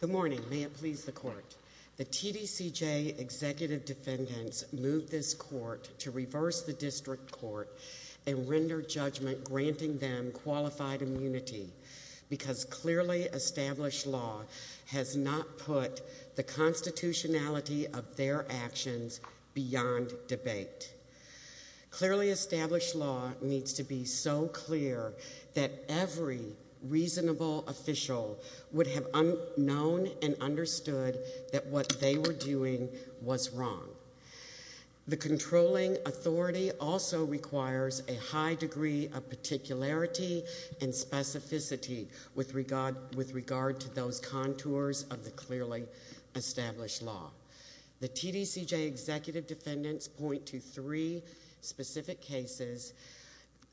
Good morning. May it please the court. The TDCJ executive defendants moved this court to reverse the district court and render judgment granting them qualified immunity because clearly established law has not put the constitutionality of their actions beyond debate. Clearly established law needs to be so clear that every reasonable official would have known and understood that what they were doing was wrong. The controlling authority also requires a high degree of particularity and specificity with regard to those contours of the clearly established law. The TDCJ executive defendants point to three specific cases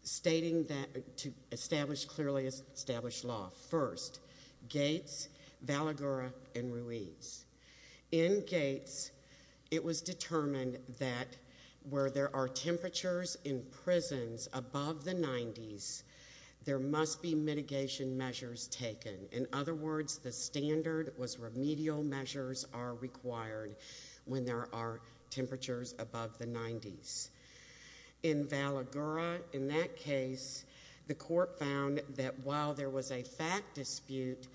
stating that to establish clearly established law. First, Gates, Valagura, and Ruiz. In Gates, it was determined that where there are temperatures in prisons above the 90s, there must be mitigation measures taken. In other words, the standard was remedial measures are required when there are temperatures above the 90s. In Valagura, in that case, the court found that while there was a fact dispute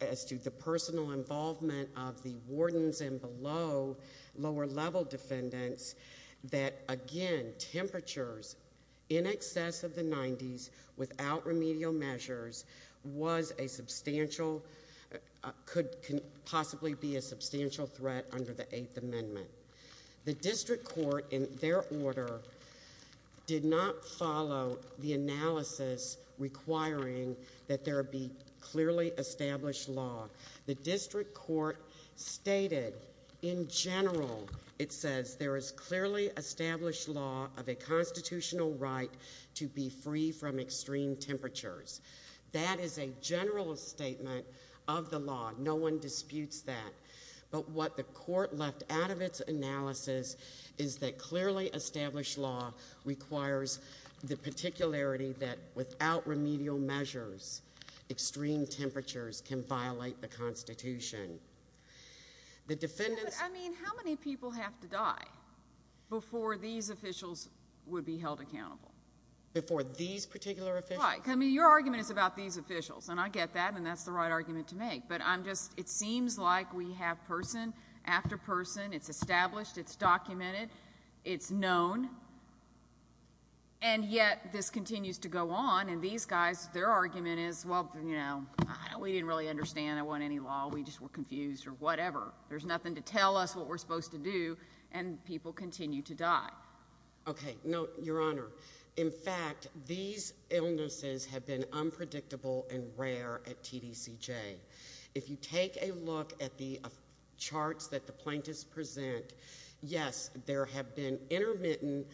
as to the personal involvement of the wardens and below lower level defendants, that again, temperatures in excess of the 90s without remedial measures was a substantial, could possibly be a substantial threat under the 8th amendment. The district court in their order did not follow the analysis requiring that there be clearly established law. The district court stated in general, it says, there is clearly established law of a constitutional right to be free from extreme temperatures. That is a general statement of the law. No one disputes that. But what the court left out of its analysis is that clearly established law requires the particularity that without remedial measures, extreme temperatures can violate the constitution. The defendants... I mean, how many people have to die before these officials would be held accountable? Before these particular officials? Right. I mean, your argument is about these officials, and I get that, and that's the right argument to make. But I'm just, it seems like we have person after person. It's established. It's documented. It's known. And yet, this continues to go on, and these guys, their argument is, well, you know, we didn't really understand any law. We just were confused or whatever. There's nothing to tell us what we're supposed to do, and people continue to die. Okay. No, your honor. In fact, these illnesses have been unpredictable and rare at TDCJ. If you take a look at the charts that the plaintiffs present, yes, there have been intermittent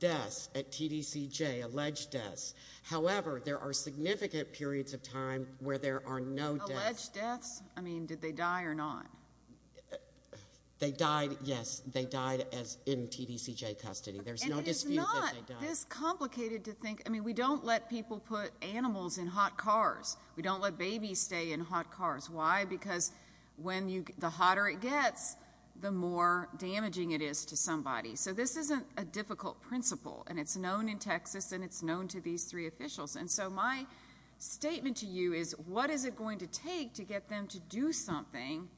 deaths at TDCJ, alleged deaths. However, there are significant periods of time where there are no deaths. Alleged deaths? I mean, did they die or not? They died, yes. They died in TDCJ custody. There's no dispute that they died. And it is not this complicated to think. I mean, we don't let people put animals in hot cars. Why? Because when you, the hotter it gets, the more damaging it is to somebody. So this isn't a difficult principle, and it's known in Texas, and it's known to these three officials. And so my statement to you is what is it going to take to get them to do something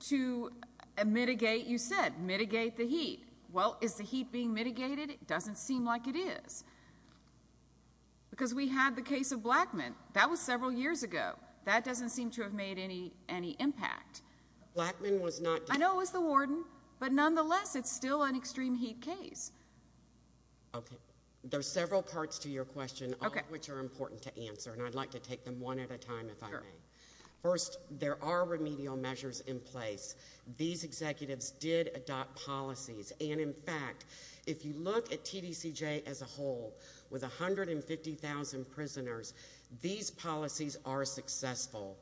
to mitigate, you said, mitigate the heat? Well, is the heat being mitigated? It doesn't seem like it is. Because we had the case of Blackman. That was several years ago. That doesn't seem to have made any impact. Blackman was not... I know it was the warden, but nonetheless, it's still an extreme heat case. Okay. There's several parts to your question, all of which are important to answer, and I'd like to take them one at a time, if I may. Sure. First, there are remedial measures in place. These executives did adopt policies. And in fact, if you look at TDCJ as a whole, with 150,000 prisoners, these policies are successful.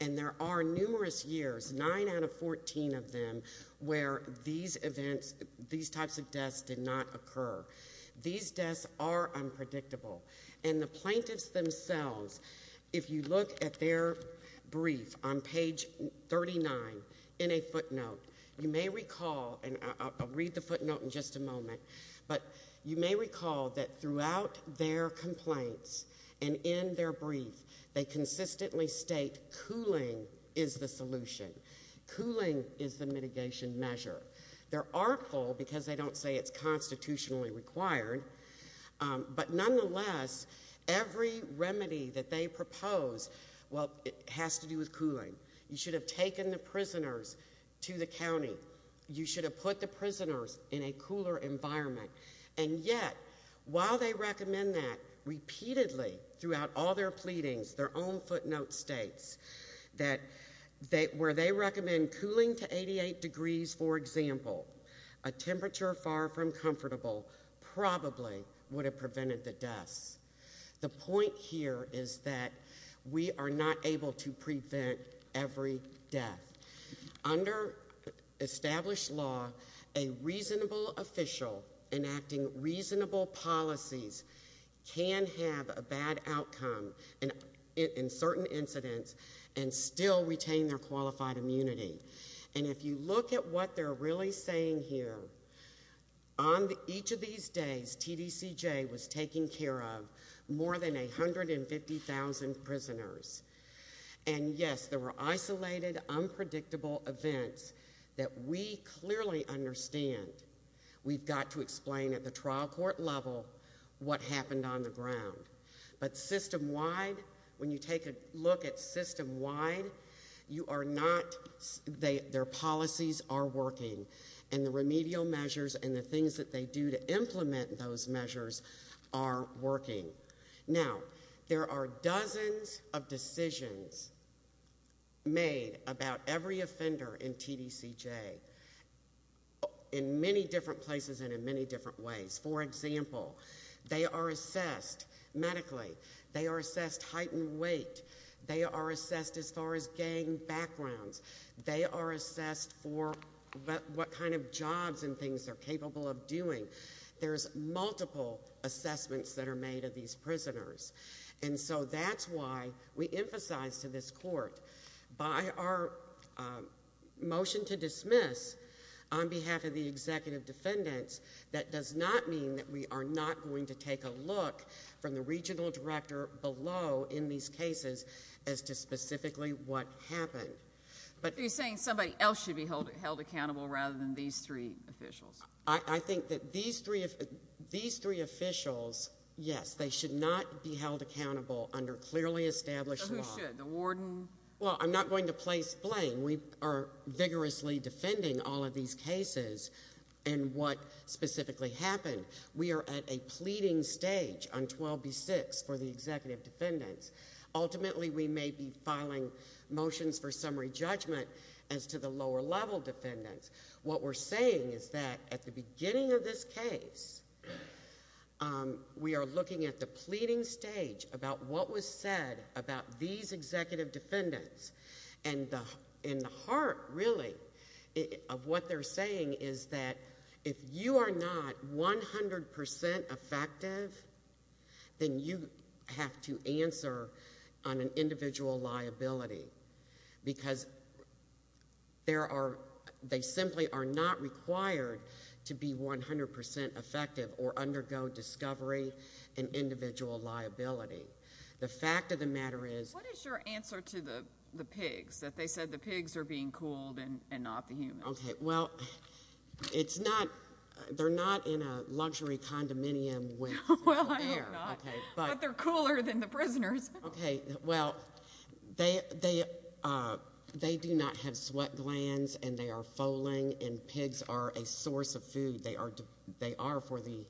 And there are numerous years, nine out of 14 of them, where these events, these types of deaths did not occur. These deaths are unpredictable. And the plaintiffs themselves, if you look at their brief on page 39, in a footnote, you may recall, and I'll read the footnote in just a moment, but you may recall that throughout their complaints and in their brief, they consistently state cooling is the solution. Cooling is the mitigation measure. They're artful, because they don't say it's constitutionally required. But nonetheless, every remedy that they propose, well, it has to do with cooling. You should have taken the prisoners in a cooler environment. And yet, while they recommend that repeatedly throughout all their pleadings, their own footnote states that where they recommend cooling to 88 degrees, for example, a temperature far from comfortable probably would have prevented the deaths. The point here is that we are not able to prevent every death. Under established law, a reasonable official enacting reasonable policies can have a bad outcome in certain incidents and still retain their qualified immunity. And if you look at what they're really saying here, on each of these days, TDCJ was taking care of more than 150,000 prisoners. And yes, there were isolated, unpredictable events that we clearly understand we've got to explain at the trial court level what happened on the ground. But system-wide, when you take a look at system-wide, you are not, their policies are working. And the remedial measures and the things that they do to implement those measures are working. Now, there are dozens of decisions made about every offender in TDCJ in many different places and in many different ways. For example, they are assessed medically. They are assessed height and weight. They are assessed as far as gang backgrounds. They are assessed for what kind of jobs and things they're capable of doing. There's multiple assessments that are made of these prisoners. And so that's why we emphasize to this court, by our motion to dismiss on behalf of the executive defendants, that does not mean that we are not going to take a look from the regional director below in these cases as to specifically what happened. You're saying somebody else should be held accountable rather than these three officials. I think that these three officials, yes, they should not be held accountable under clearly established law. So who should? The warden? Well, I'm not going to place blame. We are vigorously defending all of these cases and what specifically happened. We are at a pleading stage on 12B6 for the executive defendants. Ultimately, we may be filing motions for summary judgment as to the lower-level defendants. What we're saying is that at the beginning of this case, we are looking at the pleading stage about what was said about these executive defendants. And the heart, really, of what they're saying is that if you are not 100% effective, then you have to answer on an individual liability. Because they simply are not required to be 100% effective or undergo discovery and individual liability. The fact of the matter is... What is your answer to the pigs, that they said the pigs are being cooled and not the humans? Okay, well, it's not... They're not in a luxury condominium with... Well, I hope not. But they're cooler than the prisoners. Okay, well, they do not have sweat glands, and they are foaling, and pigs are a source of food. They are for the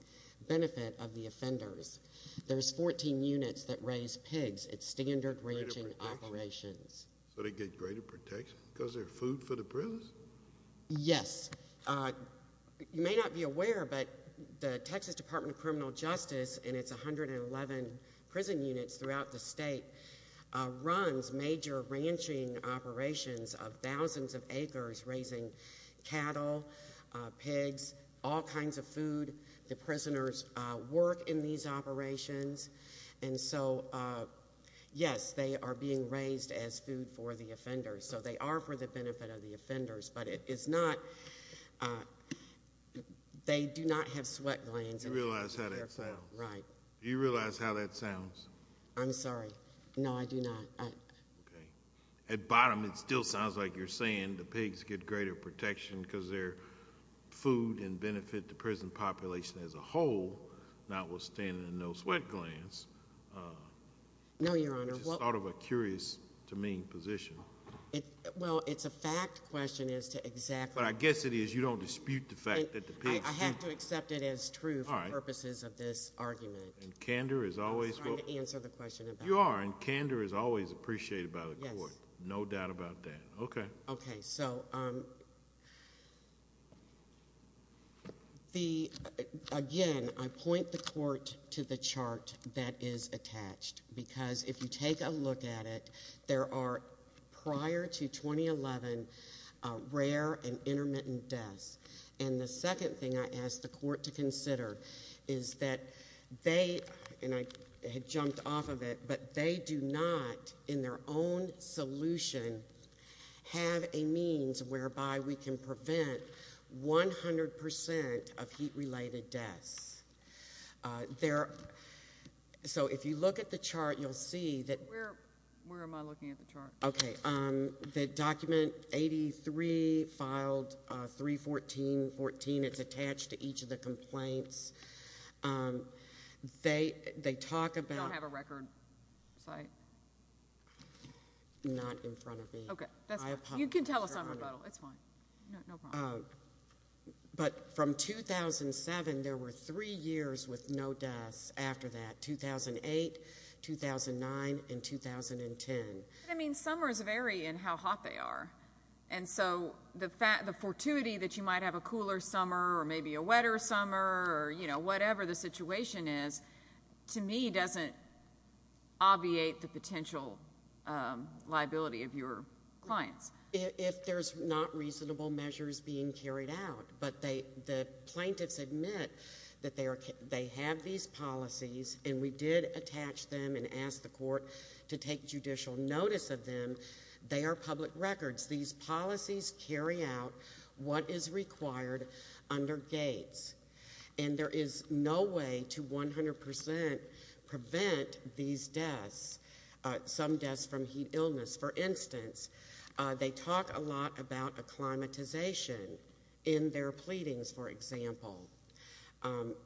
benefit of the offenders. There's 14 units that raise pigs. It's standard ranging operations. So they get greater protection because they're food for the prisoners? Yes. You may not be aware, but the Texas State runs major ranching operations of thousands of acres, raising cattle, pigs, all kinds of food. The prisoners work in these operations. And so, yes, they are being raised as food for the offenders. So they are for the benefit of the offenders. But it is not... They do not have sweat glands. Do you realize how that sounds? Right. Do you realize how that sounds? I'm sorry. No, I do not. Okay. At bottom, it still sounds like you're saying the pigs get greater protection because they're food and benefit the prison population as a whole, notwithstanding no sweat glands. No, Your Honor. It's just sort of a curious to me position. Well, it's a fact question as to exactly... But I guess it is. You don't dispute the fact that the pigs do. I have to accept it as true for purposes of this argument. And candor is always... I'm sorry to answer the question about... You are. And candor is always appreciated by the court. No doubt about that. Okay. Okay. So, again, I point the court to the chart that is attached. Because if you take a look at it, there are, prior to 2011, rare and intermittent deaths. And the second thing I ask the court to and I had jumped off of it, but they do not, in their own solution, have a means whereby we can prevent 100% of heat-related deaths. So if you look at the chart, you'll see that... Where am I looking at the chart? Okay. The document 83 filed 314.14, it's attached to each of the complaints. They talk about... You don't have a record site? Not in front of me. Okay. You can tell us on rebuttal. It's fine. No problem. But from 2007, there were three years with no deaths after that. 2008, 2009, and 2010. I mean, summers vary in how hot they are. And so the fortuity that you might have a whatever the situation is, to me, doesn't obviate the potential liability of your clients. If there's not reasonable measures being carried out, but the plaintiffs admit that they have these policies, and we did attach them and ask the court to take judicial notice of them, they are public records. These policies carry out what is required under Gates. And there is no way to 100% prevent these deaths, some deaths from heat illness. For instance, they talk a lot about acclimatization in their pleadings, for example.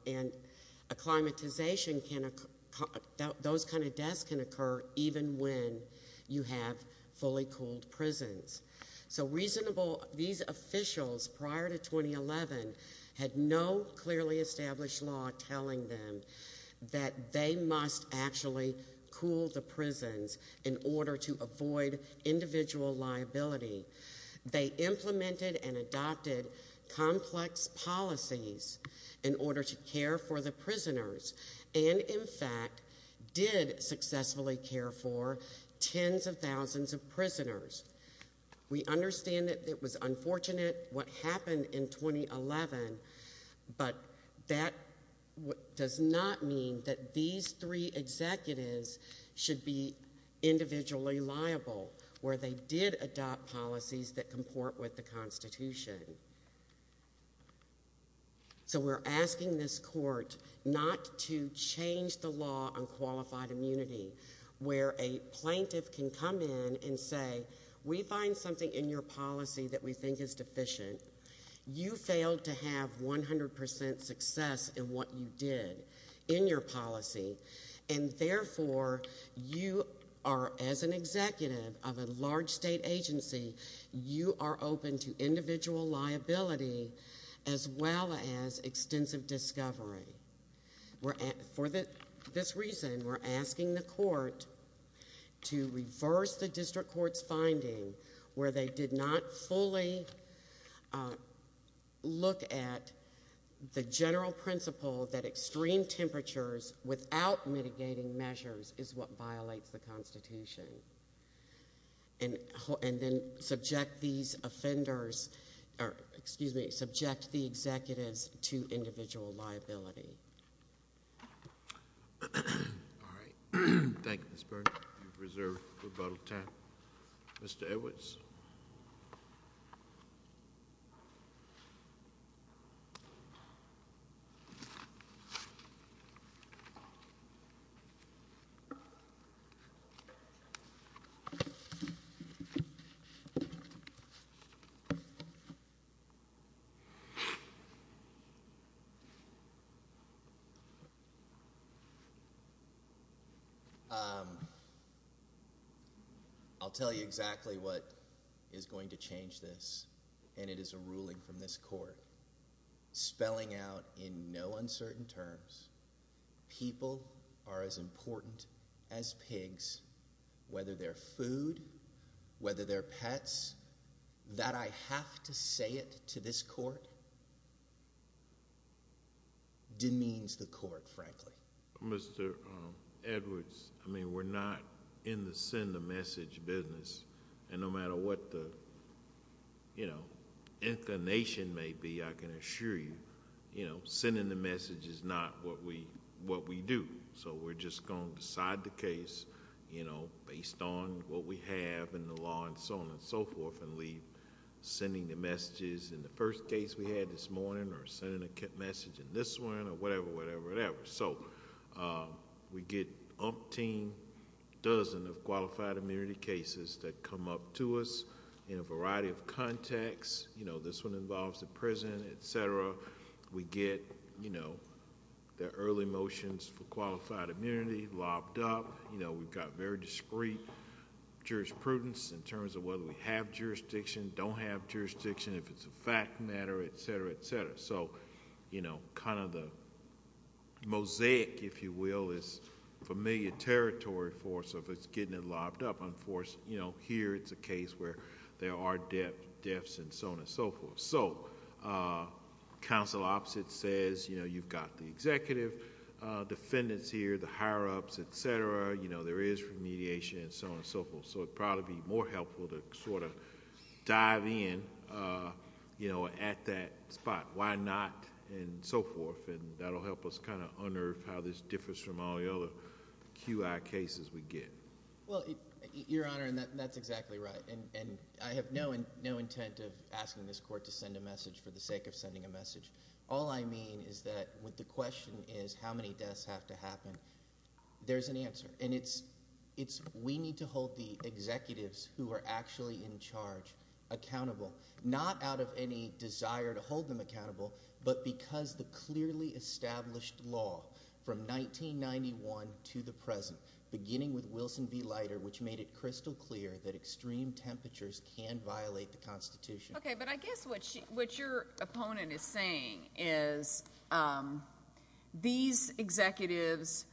And acclimatization can... Those kind of deaths can occur even when you have fully cooled prisons. So reasonable... These officials, prior to 2011, had no clearly established law telling them that they must actually cool the prisons in order to avoid individual liability. They implemented and adopted complex policies in order to care for the prisoners, and in fact, did successfully care for tens of thousands of prisoners. We understand that it was unfortunate what happened in 2011, but that does not mean that these three executives should be individually liable, where they did adopt policies that comport with the Constitution. So we're asking this court not to change the law on qualified immunity, where a plaintiff can come in and say, we find something in your policy that we think is And therefore, you are, as an executive of a large state agency, you are open to individual liability as well as extensive discovery. For this reason, we're asking the court to reverse the district court's finding, where they did not fully look at the general principle that extreme temperatures without mitigating measures is what violates the Constitution, and then subject these offenders, or excuse me, subject the executives to individual liability. All right. Thank you, Ms. Burns. You've reserved rebuttal time. Mr. Edwards. I'll tell you exactly what is going to change this, and it is a ruling from this court, spelling out in no uncertain terms, people are as important as pigs, whether they're food, whether they're pets, that I have to say it to this court demeans the court, frankly. Mr. Edwards, I mean, we're not in the send a message business, and no matter what the inclination may be, I can assure you, sending the message is not what we do. We're just going to decide the case based on what we have in the law and so on and so forth, and leave sending the messages in the first case we had this morning, or sending a message in this one, or whatever, whatever, whatever. We get umpteen dozen of qualified immunity cases that come up to us in a variety of contexts. This one involves the prison, et cetera. We get the early motions for qualified immunity lobbed up. We've got very discreet jurisprudence in terms of whether we have jurisdiction, don't have jurisdiction, if it's a fact matter, et cetera, et cetera. The mosaic, if you will, is familiar territory for us if it's getting it lobbed up. Here, it's a case where there are deaths and so on and so forth. Counsel opposite says, you've got the executive defendants here, the higher ups, et cetera. There is remediation and so on and so forth. It'd probably be more helpful to sort of dive in at that spot. Why not, and so forth, and that'll help us kind of unearth how this case is we get. Well, your honor, that's exactly right. I have no intent of asking this court to send a message for the sake of sending a message. All I mean is that when the question is how many deaths have to happen, there's an answer. We need to hold the executives who are actually in charge accountable, not out of any desire to hold them accountable, but because the clearly established law from 1991 to the present, beginning with Wilson v. Leiter, which made it crystal clear that extreme temperatures can violate the Constitution. Okay, but I guess what your opponent is saying is these executives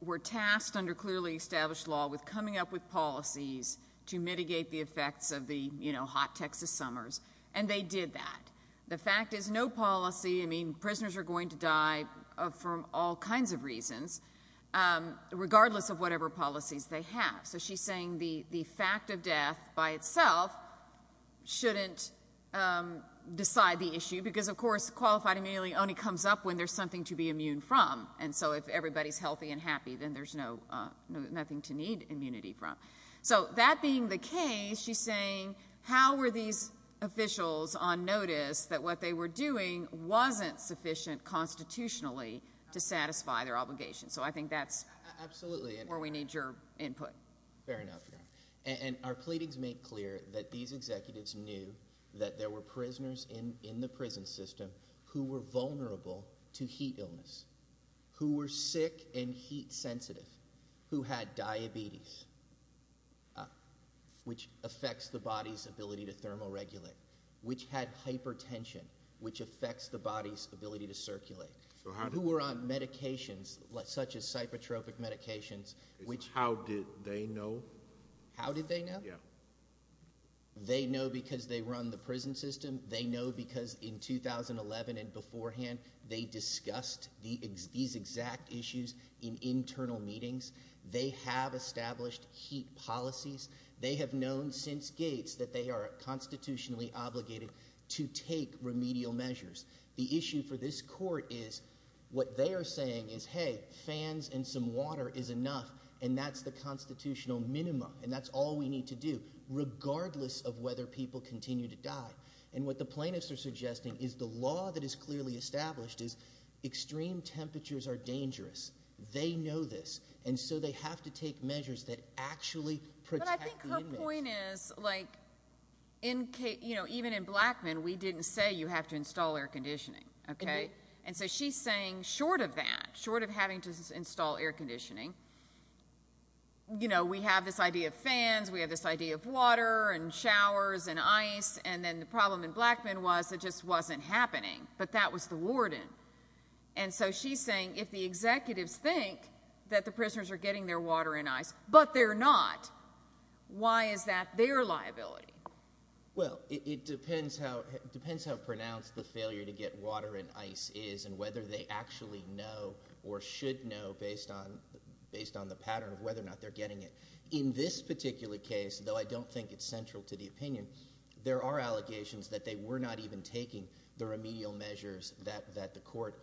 were tasked under clearly established law with coming up with policies to mitigate the effects of the hot Texas summers, and they did that. The fact is no policy, prisoners are going to die from all kinds of reasons, regardless of whatever policies they have. So she's saying the fact of death by itself shouldn't decide the issue, because of course, qualified immunity only comes up when there's something to be immune from, and so if everybody's healthy and happy, then there's nothing to need immunity from. So that being the case, she's sufficient constitutionally to satisfy their obligation. So I think that's where we need your input. Fair enough. And our pleadings make clear that these executives knew that there were prisoners in the prison system who were vulnerable to heat illness, who were sick and heat sensitive, who had diabetes, which affects the body's ability to thermoregulate, which had hypertension, which affects the body's ability to circulate, who were on medications such as cyprotropic medications. How did they know? How did they know? They know because they run the prison system. They know because in 2011 and beforehand, they discussed these exact issues in internal meetings. They have established heat policies. They have known since Gates that they are constitutionally obligated to take remedial measures. The issue for this court is what they are saying is, hey, fans and some water is enough, and that's the constitutional minimum, and that's all we need to do, regardless of whether people continue to die. And what the plaintiffs are suggesting is the law that is clearly established is extreme temperatures are dangerous. They know this, and so they have to take measures that actually protect the inmates. But I think her point is, even in Blackmun, we didn't say you have to install air conditioning. Okay? And so she's saying short of that, short of having to install air conditioning, we have this idea of fans, we have this idea of water and showers and ice, and then the problem in Blackmun was it just wasn't happening, but that was the warden. And so she's saying if the executives think that the prisoners are getting their water and ice, but they're not, why is that their liability? Well, it depends how pronounced the failure to get water and ice is and whether they actually know or should know based on the pattern of whether or not they're getting it. In this particular case, though I don't think it's central to the opinion, there are allegations that they were not even taking the remedial measures that the court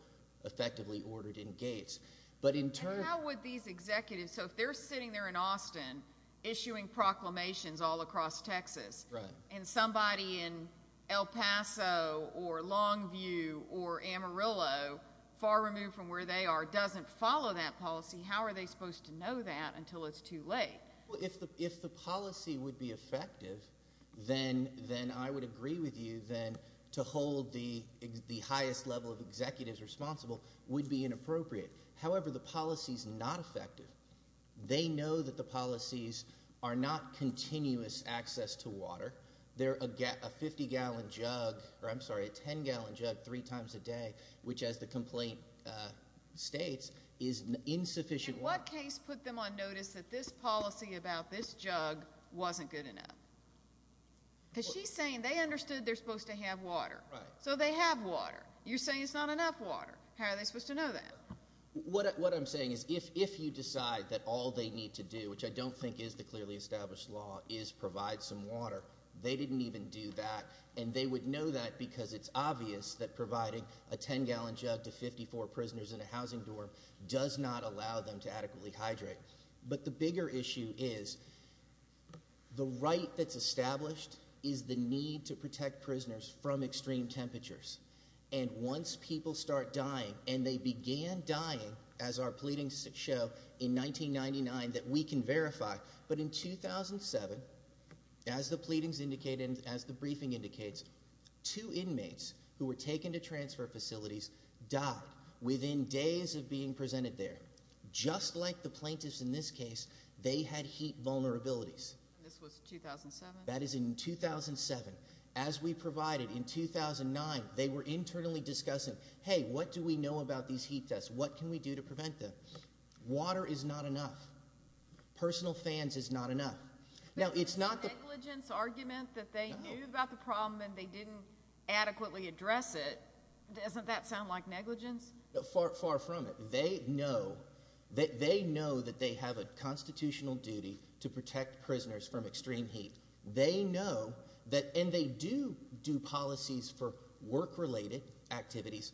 effectively ordered in Gates. And how would these executives, so if they're sitting there in Austin, issuing proclamations all across Texas, and somebody in El Paso or Longview or Amarillo, far removed from where they are, doesn't follow that policy, how are they supposed to know that until it's too late? Well, if the policy would be effective, then I would agree with you then to hold the highest level of executives responsible would be inappropriate. However, the policy's not effective. They know that the policies are not continuous access to water. They're a 50-gallon jug, or I'm sorry, a 10-gallon jug three times a day, which as the complaint states, is insufficient water. In what case put them on notice that this policy about this jug wasn't good enough? Because she's saying they understood they're supposed to have water. So they have water. You're saying it's not enough water. How are they supposed to know that? What I'm saying is if you decide that all they need to do, which I don't think is the clearly established law, is provide some water, they didn't even do that. And they would know that because it's obvious that providing a 10-gallon jug to 54 prisoners in a housing dorm does not allow them to adequately hydrate. But the bigger issue is the right that's established is the need to protect prisoners from extreme temperatures. And once people start dying, and they began dying as our pleadings show in 1999, that we can verify. But in 2007, as the pleadings indicate and as the briefing indicates, two inmates who were taken to transfer facilities died within days of being presented there. Just like the plaintiffs in this case, they had heat vulnerabilities. This was 2007? That is in 2007. As we provided in 2009, they were internally discussing, hey, what do we know about these heat tests? What can we do to prevent them? Water is not enough. Personal fans is not enough. Now, it's not the negligence argument that they knew about the problem and they didn't adequately address it. Doesn't that sound like negligence? Far from it. They know that they have a constitutional duty to protect prisoners from extreme heat. They know that, and they do do policies for work-related activities,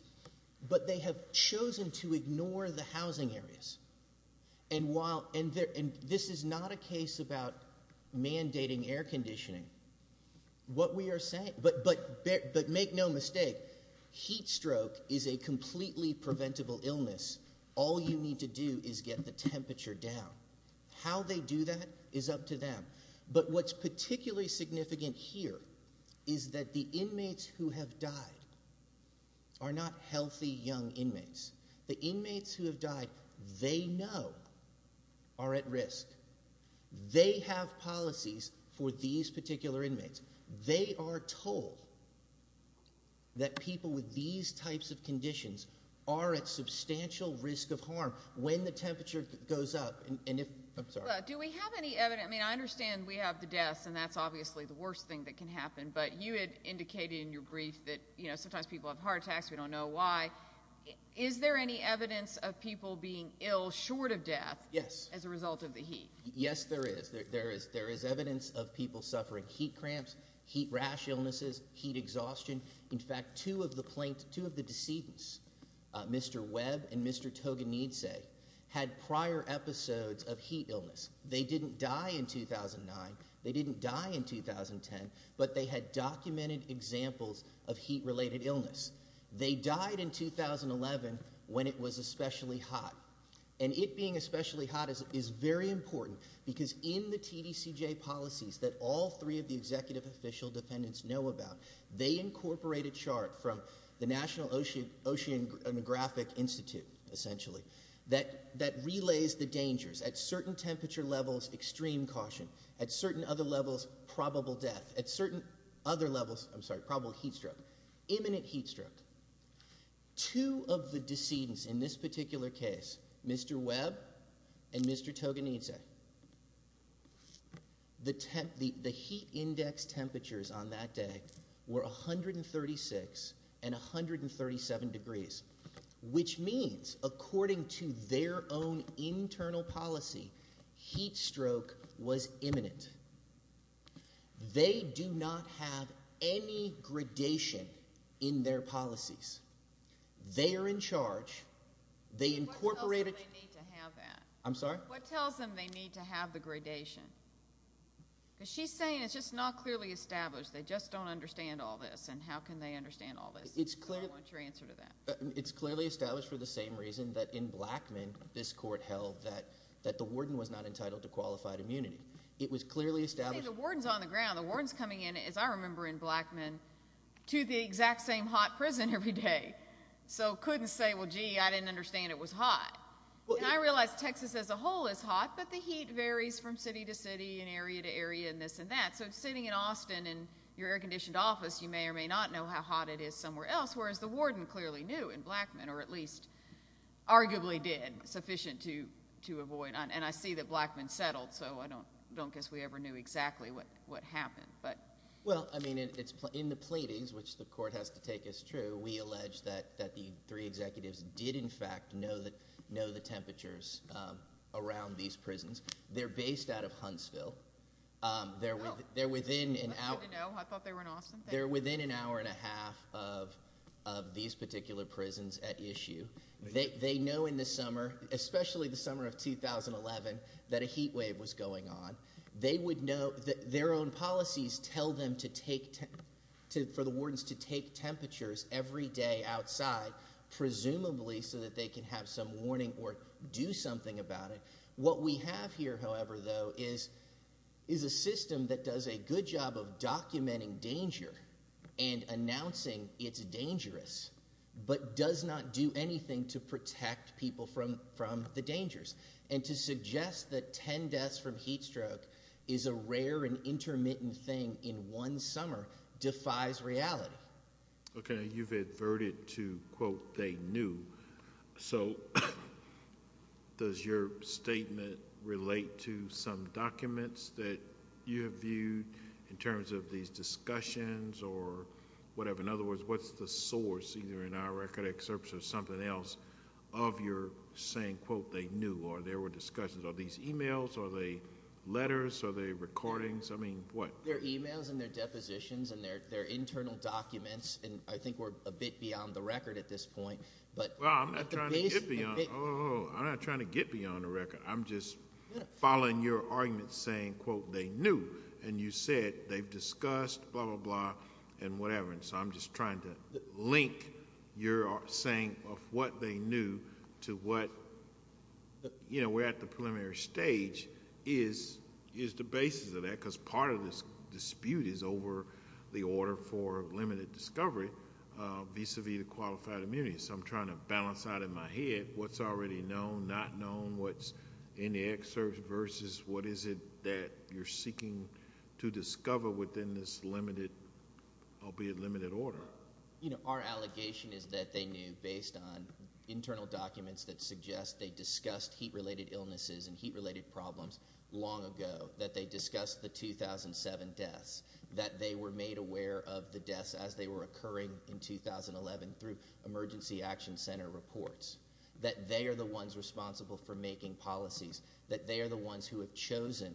but they have chosen to ignore the housing areas. And while, and this is not a case about mandating air conditioning. What we are saying, but make no mistake, heat stroke is a completely preventable illness. All you need to do is get the temperature down. How they do that is up to them. But what's particularly significant here is that the inmates who have died are not healthy, young inmates. The inmates who have died, they know, are at risk. They have policies for these particular inmates. They are told that people with these types of conditions are at substantial risk of harm when the temperature goes up. And if, I'm sorry. Do we have any evidence? I mean, I understand we have the deaths, and that's obviously the worst thing that can happen, but you had indicated in your brief that, you know, sometimes people have heart attacks. We don't know why. Is there any evidence of people being ill short of death? Yes. As a result of the heat? Yes, there is. There is. There is evidence of people suffering heat cramps, heat rash illnesses, heat exhaustion. In fact, two of the plaintiffs, two of the decedents, Mr. Webb and Mr. Toganidze, had prior episodes of heat illness. They didn't die in 2009. They didn't die in 2010. But they had documented examples of heat-related illness. They died in 2011 when it was especially hot. And it being especially hot is very important because in the TDCJ policies that all three of the executive official defendants know about, they incorporate a chart from the National Oceanographic Institute, essentially, that relays the dangers. At certain temperature levels, extreme caution. At certain other levels, probable death. At certain other levels, I'm sorry, probable heat stroke. Imminent heat stroke. Two of the decedents in this particular case, Mr. Webb and Mr. Toganidze, the heat index temperatures on that day were 136 and 137 degrees, which means, according to their own internal policy, heat stroke was imminent. They do not have any gradation in their policies. They are in charge. They incorporate it. What tells them they need to have that? I'm sorry? What tells them they need to have the gradation? Because she's saying it's just not clearly established. They just don't understand all this. And how can they understand all this? I want your answer to that. It's clearly established for the same reason that in Blackmun, this court held that the warden was not entitled to qualified immunity. It was clearly established. See, the warden's on the ground. The warden's coming in, as I remember in Blackmun, to the exact same hot prison every day. So couldn't say, well, gee, I didn't understand it was hot. And I realize Texas as a whole is hot, but the heat varies from city to city and area to area and this and that. So sitting in Austin in your air-conditioned office, you may or may not know how hot it is somewhere else, whereas the warden clearly knew in Blackmun, or at least arguably did, sufficient to avoid. And I see that Blackmun settled, so I don't guess we ever knew exactly what happened. Well, I mean, in the pleadings, which the court has to take as true, we allege that the three know the temperatures around these prisons. They're based out of Huntsville. They're within an hour and a half of these particular prisons at issue. They know in the summer, especially the summer of 2011, that a heat wave was going on. Their own policies tell them for the wardens to take temperatures every day outside, presumably so that they can have some warning or do something about it. What we have here, however, though, is a system that does a good job of documenting danger and announcing it's dangerous, but does not do anything to protect people from the dangers. And to suggest that 10 deaths from heat stroke is a rare and intermittent thing in one summer defies reality. Okay. You've adverted to, quote, they knew. So does your statement relate to some documents that you have viewed in terms of these discussions or whatever? In other words, what's the source, either in our record excerpts or something else, of your saying, quote, they knew, or there were discussions? Are these emails? Are they letters? Are they recordings? I mean, what? They're emails and they're depositions and they're internal documents, and I think we're a bit beyond the record at this point, but- Well, I'm not trying to get beyond the record. I'm just following your argument saying, quote, they knew, and you said they've discussed, blah, blah, blah, and whatever. And so I'm just trying to link your saying of what they knew to what, you know, we're at the preliminary stage is the dispute is over the order for limited discovery vis-a-vis the qualified immunity. So I'm trying to balance out in my head what's already known, not known, what's in the excerpt versus what is it that you're seeking to discover within this limited, albeit limited order. Our allegation is that they knew based on internal documents that suggest they discussed heat-related illnesses and heat-related problems long ago, that they discussed the 2007 deaths, that they were made aware of the deaths as they were occurring in 2011 through emergency action center reports, that they are the ones responsible for making policies, that they are the ones who have chosen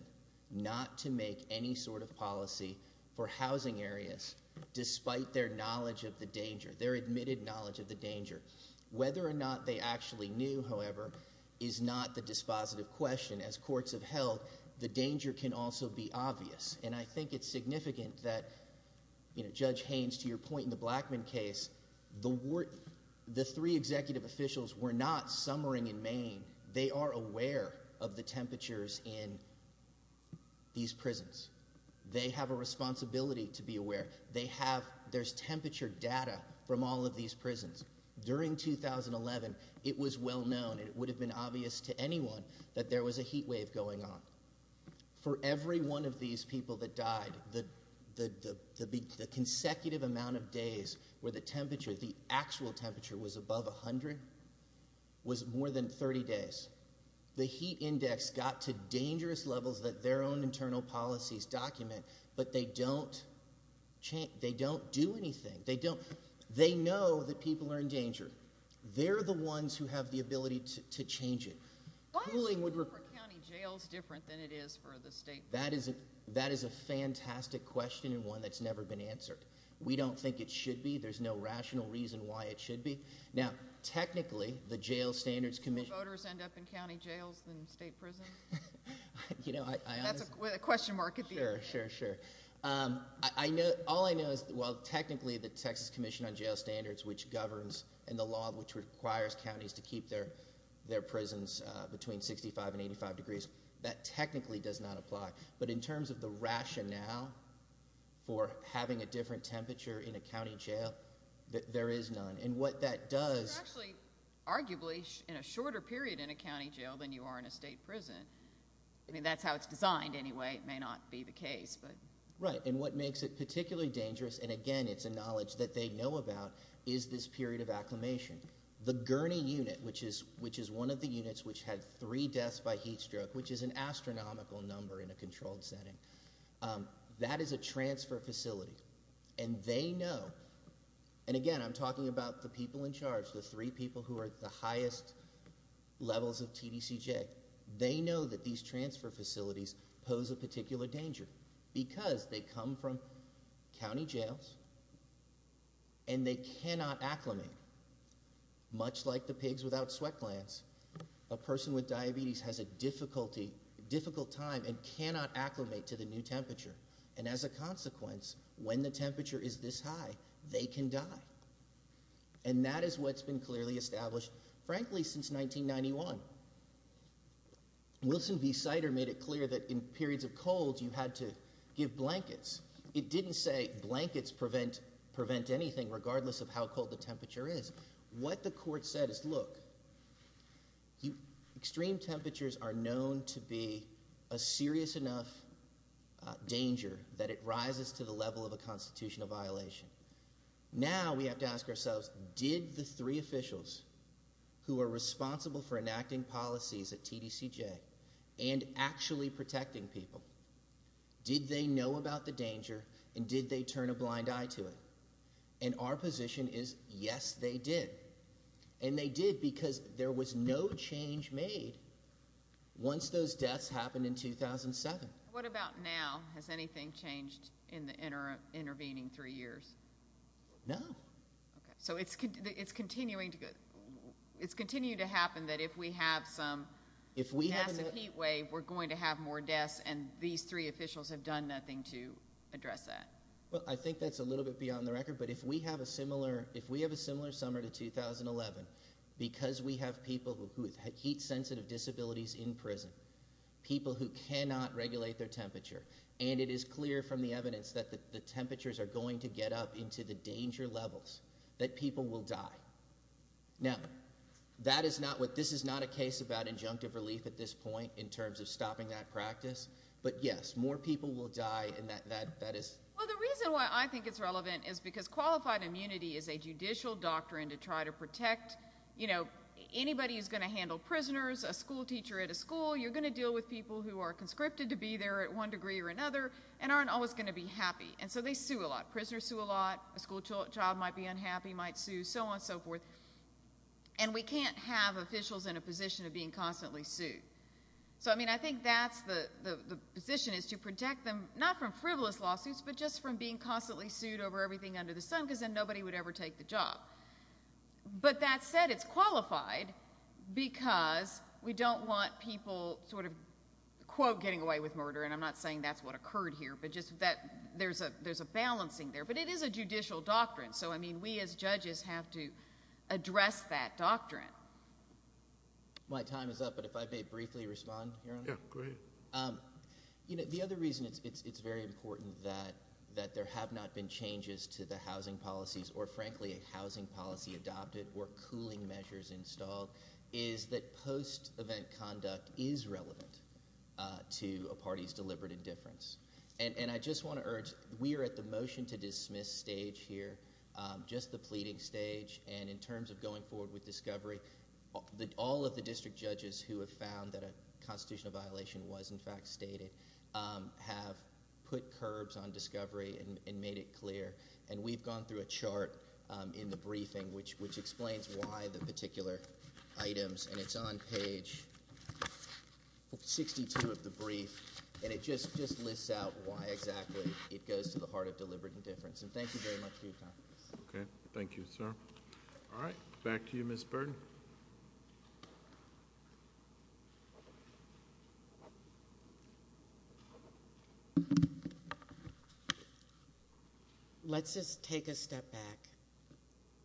not to make any sort of policy for housing areas despite their knowledge of the danger, their admitted knowledge of the danger. Whether or not they actually knew, however, is not the dispositive question. As courts have held, the danger can also be obvious. And I think it's significant that, you know, Judge Haynes, to your point in the Blackmun case, the three executive officials were not summering in Maine. They are aware of the temperatures in these prisons. They have a responsibility to be aware. They have, there's temperature data from all of these prisons. During 2011, it was well known, it would have been obvious to anyone that there was a heat wave going on. For every one of these people that died, the consecutive amount of days where the temperature, the actual temperature was above 100, was more than 30 days. The heat index got to dangerous levels that their own internal policies document, but they don't change, they don't do anything. They don't, they don't know that people are in danger. They're the ones who have the ability to change it. Why is the rule for county jails different than it is for the state prisons? That is a fantastic question and one that's never been answered. We don't think it should be. There's no rational reason why it should be. Now, technically, the Jail Standards Commission... Do more voters end up in county jails than state prisons? You know, I... That's a question mark at the end. Sure, sure, sure. I know, all I know is, well, the Texas Commission on Jail Standards, which governs and the law which requires counties to keep their prisons between 65 and 85 degrees, that technically does not apply. But in terms of the rationale for having a different temperature in a county jail, there is none. And what that does... You're actually, arguably, in a shorter period in a county jail than you are in a state prison. I mean, that's how it's designed anyway. It may not be the case, but... Right. And what makes it particularly dangerous, and again, it's a knowledge that they know about, is this period of acclimation. The Gurney Unit, which is one of the units which had three deaths by heat stroke, which is an astronomical number in a controlled setting, that is a transfer facility. And they know... And again, I'm talking about the people in charge, the three people who are the highest levels of TDCJ. They know that these transfer facilities pose a particular danger because they come from county jails and they cannot acclimate. Much like the pigs without sweat glands, a person with diabetes has a difficult time and cannot acclimate to the new temperature. And as a consequence, when the temperature is this high, they can die. And that is what's been clearly established, frankly, since 1991. Wilson v. Sider made it clear that in periods of cold, you had to give blankets. It didn't say blankets prevent anything, regardless of how cold the temperature is. What the court said is, look, extreme temperatures are known to be a serious enough danger that it rises to the level of a constitutional violation. Now we have to ask ourselves, did the three officials who are responsible for enacting policies at TDCJ and actually protecting people, did they know about the danger and did they turn a blind eye to it? And our position is, yes, they did. And they did because there was no change made once those deaths happened in 2007. What about now? Has anything changed in the intervening three years? No. Okay. So it's continuing to happen that if we have some massive heat wave, we're going to have more deaths and these three officials have done nothing to address that. Well, I think that's a little bit beyond the record. But if we have a similar summer to 2011, because we have people who have heat-sensitive disabilities in prison, people who cannot regulate their temperature, and it is clear from the evidence that the temperatures are going to up into the danger levels that people will die. Now, this is not a case about injunctive relief at this point in terms of stopping that practice. But yes, more people will die. Well, the reason why I think it's relevant is because qualified immunity is a judicial doctrine to try to protect, you know, anybody who's going to handle prisoners, a school teacher at a school, you're going to deal with people who are conscripted to be there at one degree or another and aren't always going to be happy. And so they sue a lot. Prisoners sue a lot. A school child might be unhappy, might sue, so on and so forth. And we can't have officials in a position of being constantly sued. So, I mean, I think that's the position is to protect them not from frivolous lawsuits, but just from being constantly sued over everything under the sun because then nobody would ever take the job. But that said, it's qualified because we don't want people sort of quote, getting away with murder. And I'm not saying that's what occurred here, but just that there's a there's a balancing there. But it is a judicial doctrine. So, I mean, we as judges have to address that doctrine. My time is up, but if I may briefly respond. Yeah, go ahead. You know, the other reason it's very important that that there have not been changes to the housing policies or frankly, a housing policy adopted or cooling measures installed is that post-event conduct is relevant to a party's deliberate indifference. And I just want to urge, we are at the motion to dismiss stage here, just the pleading stage. And in terms of going forward with discovery, all of the district judges who have found that a constitutional violation was in fact stated have put curbs on discovery and made it clear. And we've gone through a chart in the briefing, which explains why the particular items. And it's on page 62 of the brief. And it just lists out why exactly it goes to the heart of deliberate indifference. And thank you very much for your time. Okay, thank you, sir. All right, back to you, Ms. Burton. Let's just take a step back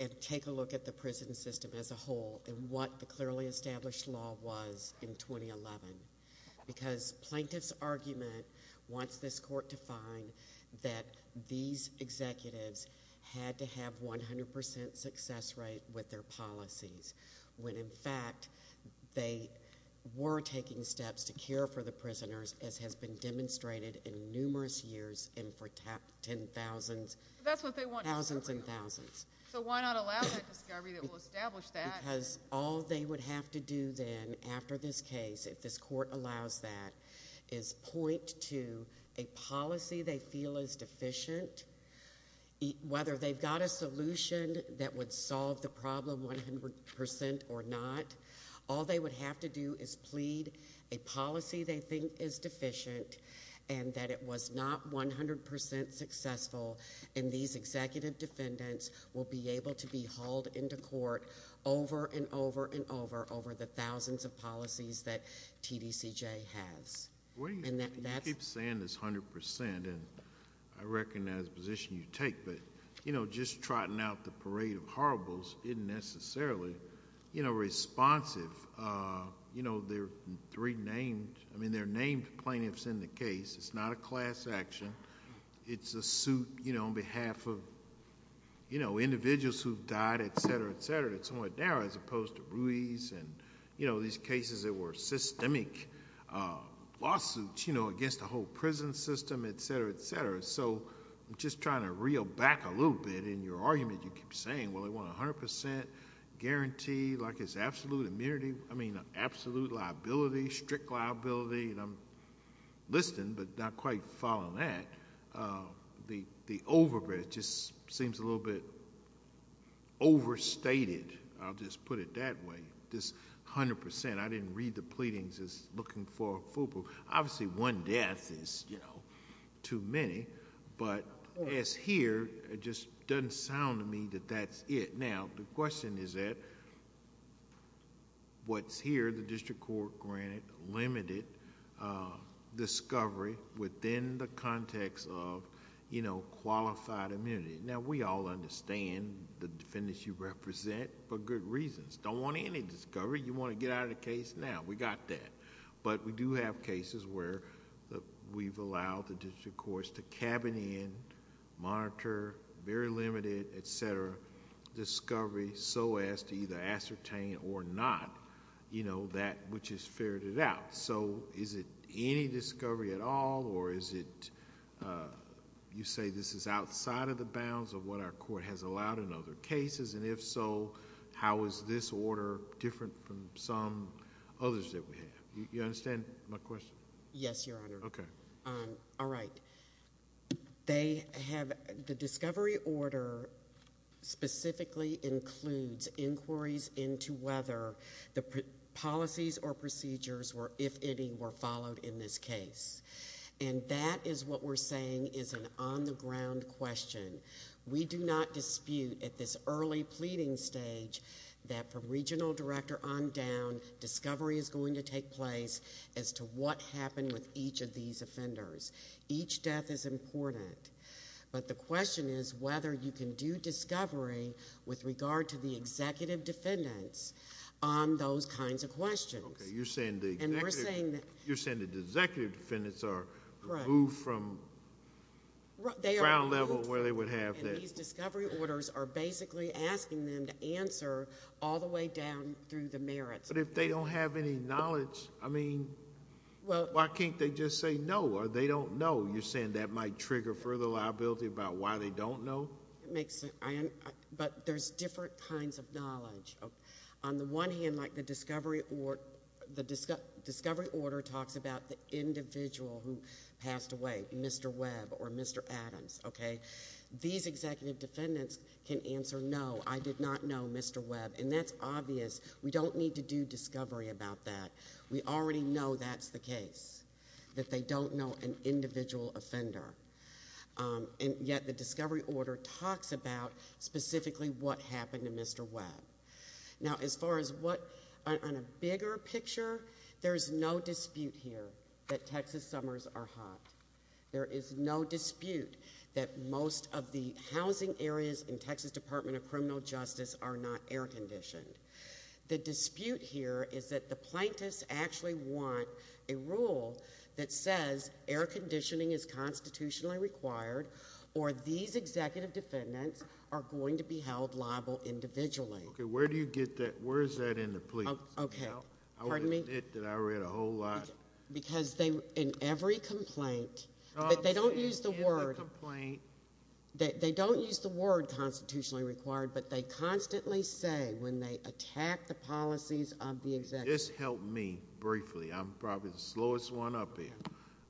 and take a look at the prison system as a whole and what the clearly established law was in 2011. Because plaintiff's argument wants this court to find that these when in fact they were taking steps to care for the prisoners, as has been demonstrated in numerous years and for 10,000s. That's what they want. Thousands and thousands. So why not allow that discovery that will establish that? Because all they would have to do then after this case, if this court allows that, is point to a policy they feel is deficient. Whether they've got a solution that would solve the problem 100% or not, all they would have to do is plead a policy they think is deficient and that it was not 100% successful. And these executive defendants will be able to be hauled into court over and over and over, over the thousands of policies that TDCJ has. You keep saying it's 100% and I recognize the position you take, but just trotting out the parade of horribles isn't necessarily responsive. They're named plaintiffs in the case. It's not a class action. It's a suit on behalf of individuals who've died, et cetera, et cetera, that's what they're as opposed to Ruiz and these cases that were systemic lawsuits against the whole prison system, et cetera, et cetera. So I'm just trying to reel back a little bit in your argument. You keep saying, well, they want 100% guarantee, like it's absolute immunity, I mean, absolute liability, strict liability. And I'm listening, but not quite following that. The overbridge just a little bit overstated, I'll just put it that way. This 100%, I didn't read the pleadings as looking for a full proof. Obviously one death is too many, but as here, it just doesn't sound to me that that's it. Now, the question is that what's here, the district court granted limited discovery within the context of qualified immunity. Now, we all understand the defendants you represent for good reasons. Don't want any discovery, you want to get out of the case now, we got that. But we do have cases where we've allowed the district courts to cabin in, monitor, very limited, et cetera, discovery so as to either ascertain or not that which ferreted out. Is it any discovery at all, or is it, you say this is outside of the bounds of what our court has allowed in other cases, and if so, how is this order different from some others that we have? You understand my question? Yes, Your Honor. Okay. All right. They have, the discovery order specifically includes inquiries into whether the policies or procedures were, if any, were followed in this case. And that is what we're saying is an on the ground question. We do not dispute at this early pleading stage that from regional director on down, discovery is going to take place as to what happened with each of these offenders. Each death is important. But the question is whether you can do discovery with regard to the executive defendants on those kinds of questions. Okay. You're saying the executive defendants are removed from ground level where they would have been. And these discovery orders are basically asking them to answer all the way down through the merits. But if they don't have any knowledge, I mean, why can't they just say no or they don't know? You're saying that might trigger further liability about why they don't know? It makes sense. But there's different kinds of knowledge. On the one hand, like the discovery order talks about the individual who passed away, Mr. Webb or Mr. Adams. Okay. These executive defendants can answer no, I did not know Mr. Webb. And that's obvious. We don't need to do discovery about that. We already know that's the case. That they don't know an individual offender. And yet the discovery order talks about specifically what happened to Mr. Webb. Now, as far as what on a bigger picture, there's no dispute here that Texas summers are hot. There is no dispute that most of the housing areas in Texas Department of Criminal Justice are not air conditioned. The dispute here is that the plaintiffs actually want a rule that says air conditioning is constitutionally required or these executive defendants are going to be held liable individually. Okay. Where do you get that? Where is that in the plea? Okay. Pardon me? I read a whole lot. Because in every complaint, but they don't use the word. They don't use the word constitutionally required, but they constantly say when they attack the policies of the executive. Just help me briefly. I'm probably the slowest one up here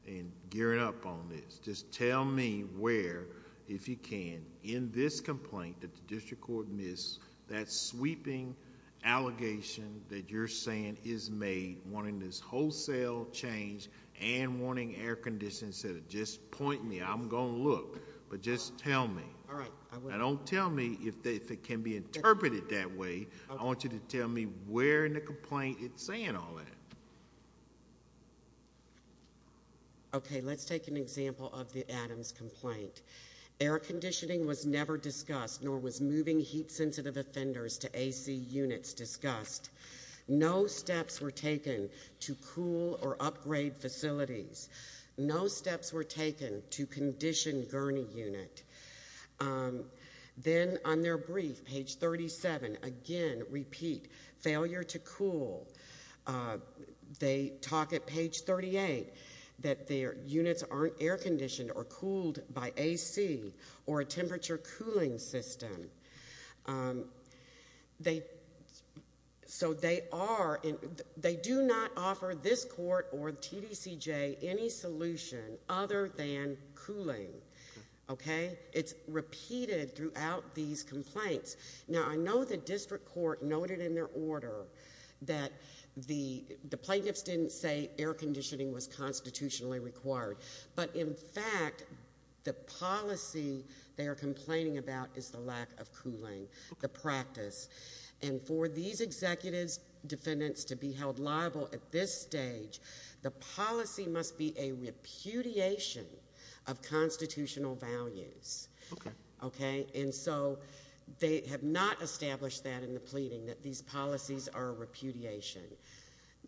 in gearing up on this. Just tell me where, if you can, in this complaint that the district court missed, that sweeping allegation that you're saying is made wanting this wholesale change and wanting air conditions to just point me. I'm going to look, but just tell me. All right. Now, don't tell me if it can be interpreted that way. I want you to tell me where in the complaint it's saying all that. Okay. Let's take an example of the Adams complaint. Air conditioning was never discussed, nor was moving heat sensitive offenders to AC units discussed. No steps were taken to cool or upgrade facilities. No steps were taken to condition gurney unit. Then on their brief, page 37, again, repeat, failure to cool. They talk at page 38 that their air conditioning was never discussed. They do not offer this court or TDCJ any solution other than cooling. Okay? It's repeated throughout these complaints. Now, I know the district court noted in their order that the plaintiffs didn't say air conditioning was constitutionally required, but in fact, the policy they are complaining about is the lack of cooling, the practice, and for these executives, defendants to be held liable at this stage, the policy must be a repudiation of constitutional values. Okay? And so they have not established that in the pleading that these policies are repudiation.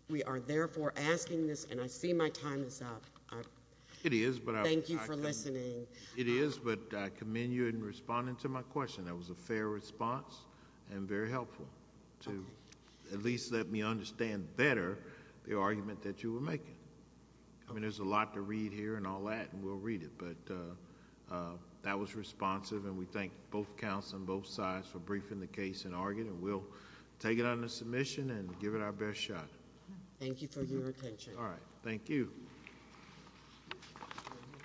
We are therefore asking this, and I see my time is up, it is, but I thank you for listening. It is, but I commend you in responding to my question. That was a fair response and very helpful to at least let me understand better the argument that you were making. I mean, there's a lot to read here and all that, and we'll read it, but that was responsive, and we thank both counsel and both sides for briefing the case and arguing, and we'll take it under submission and give it our best shot. Thank you for your attention. All right. Thank you.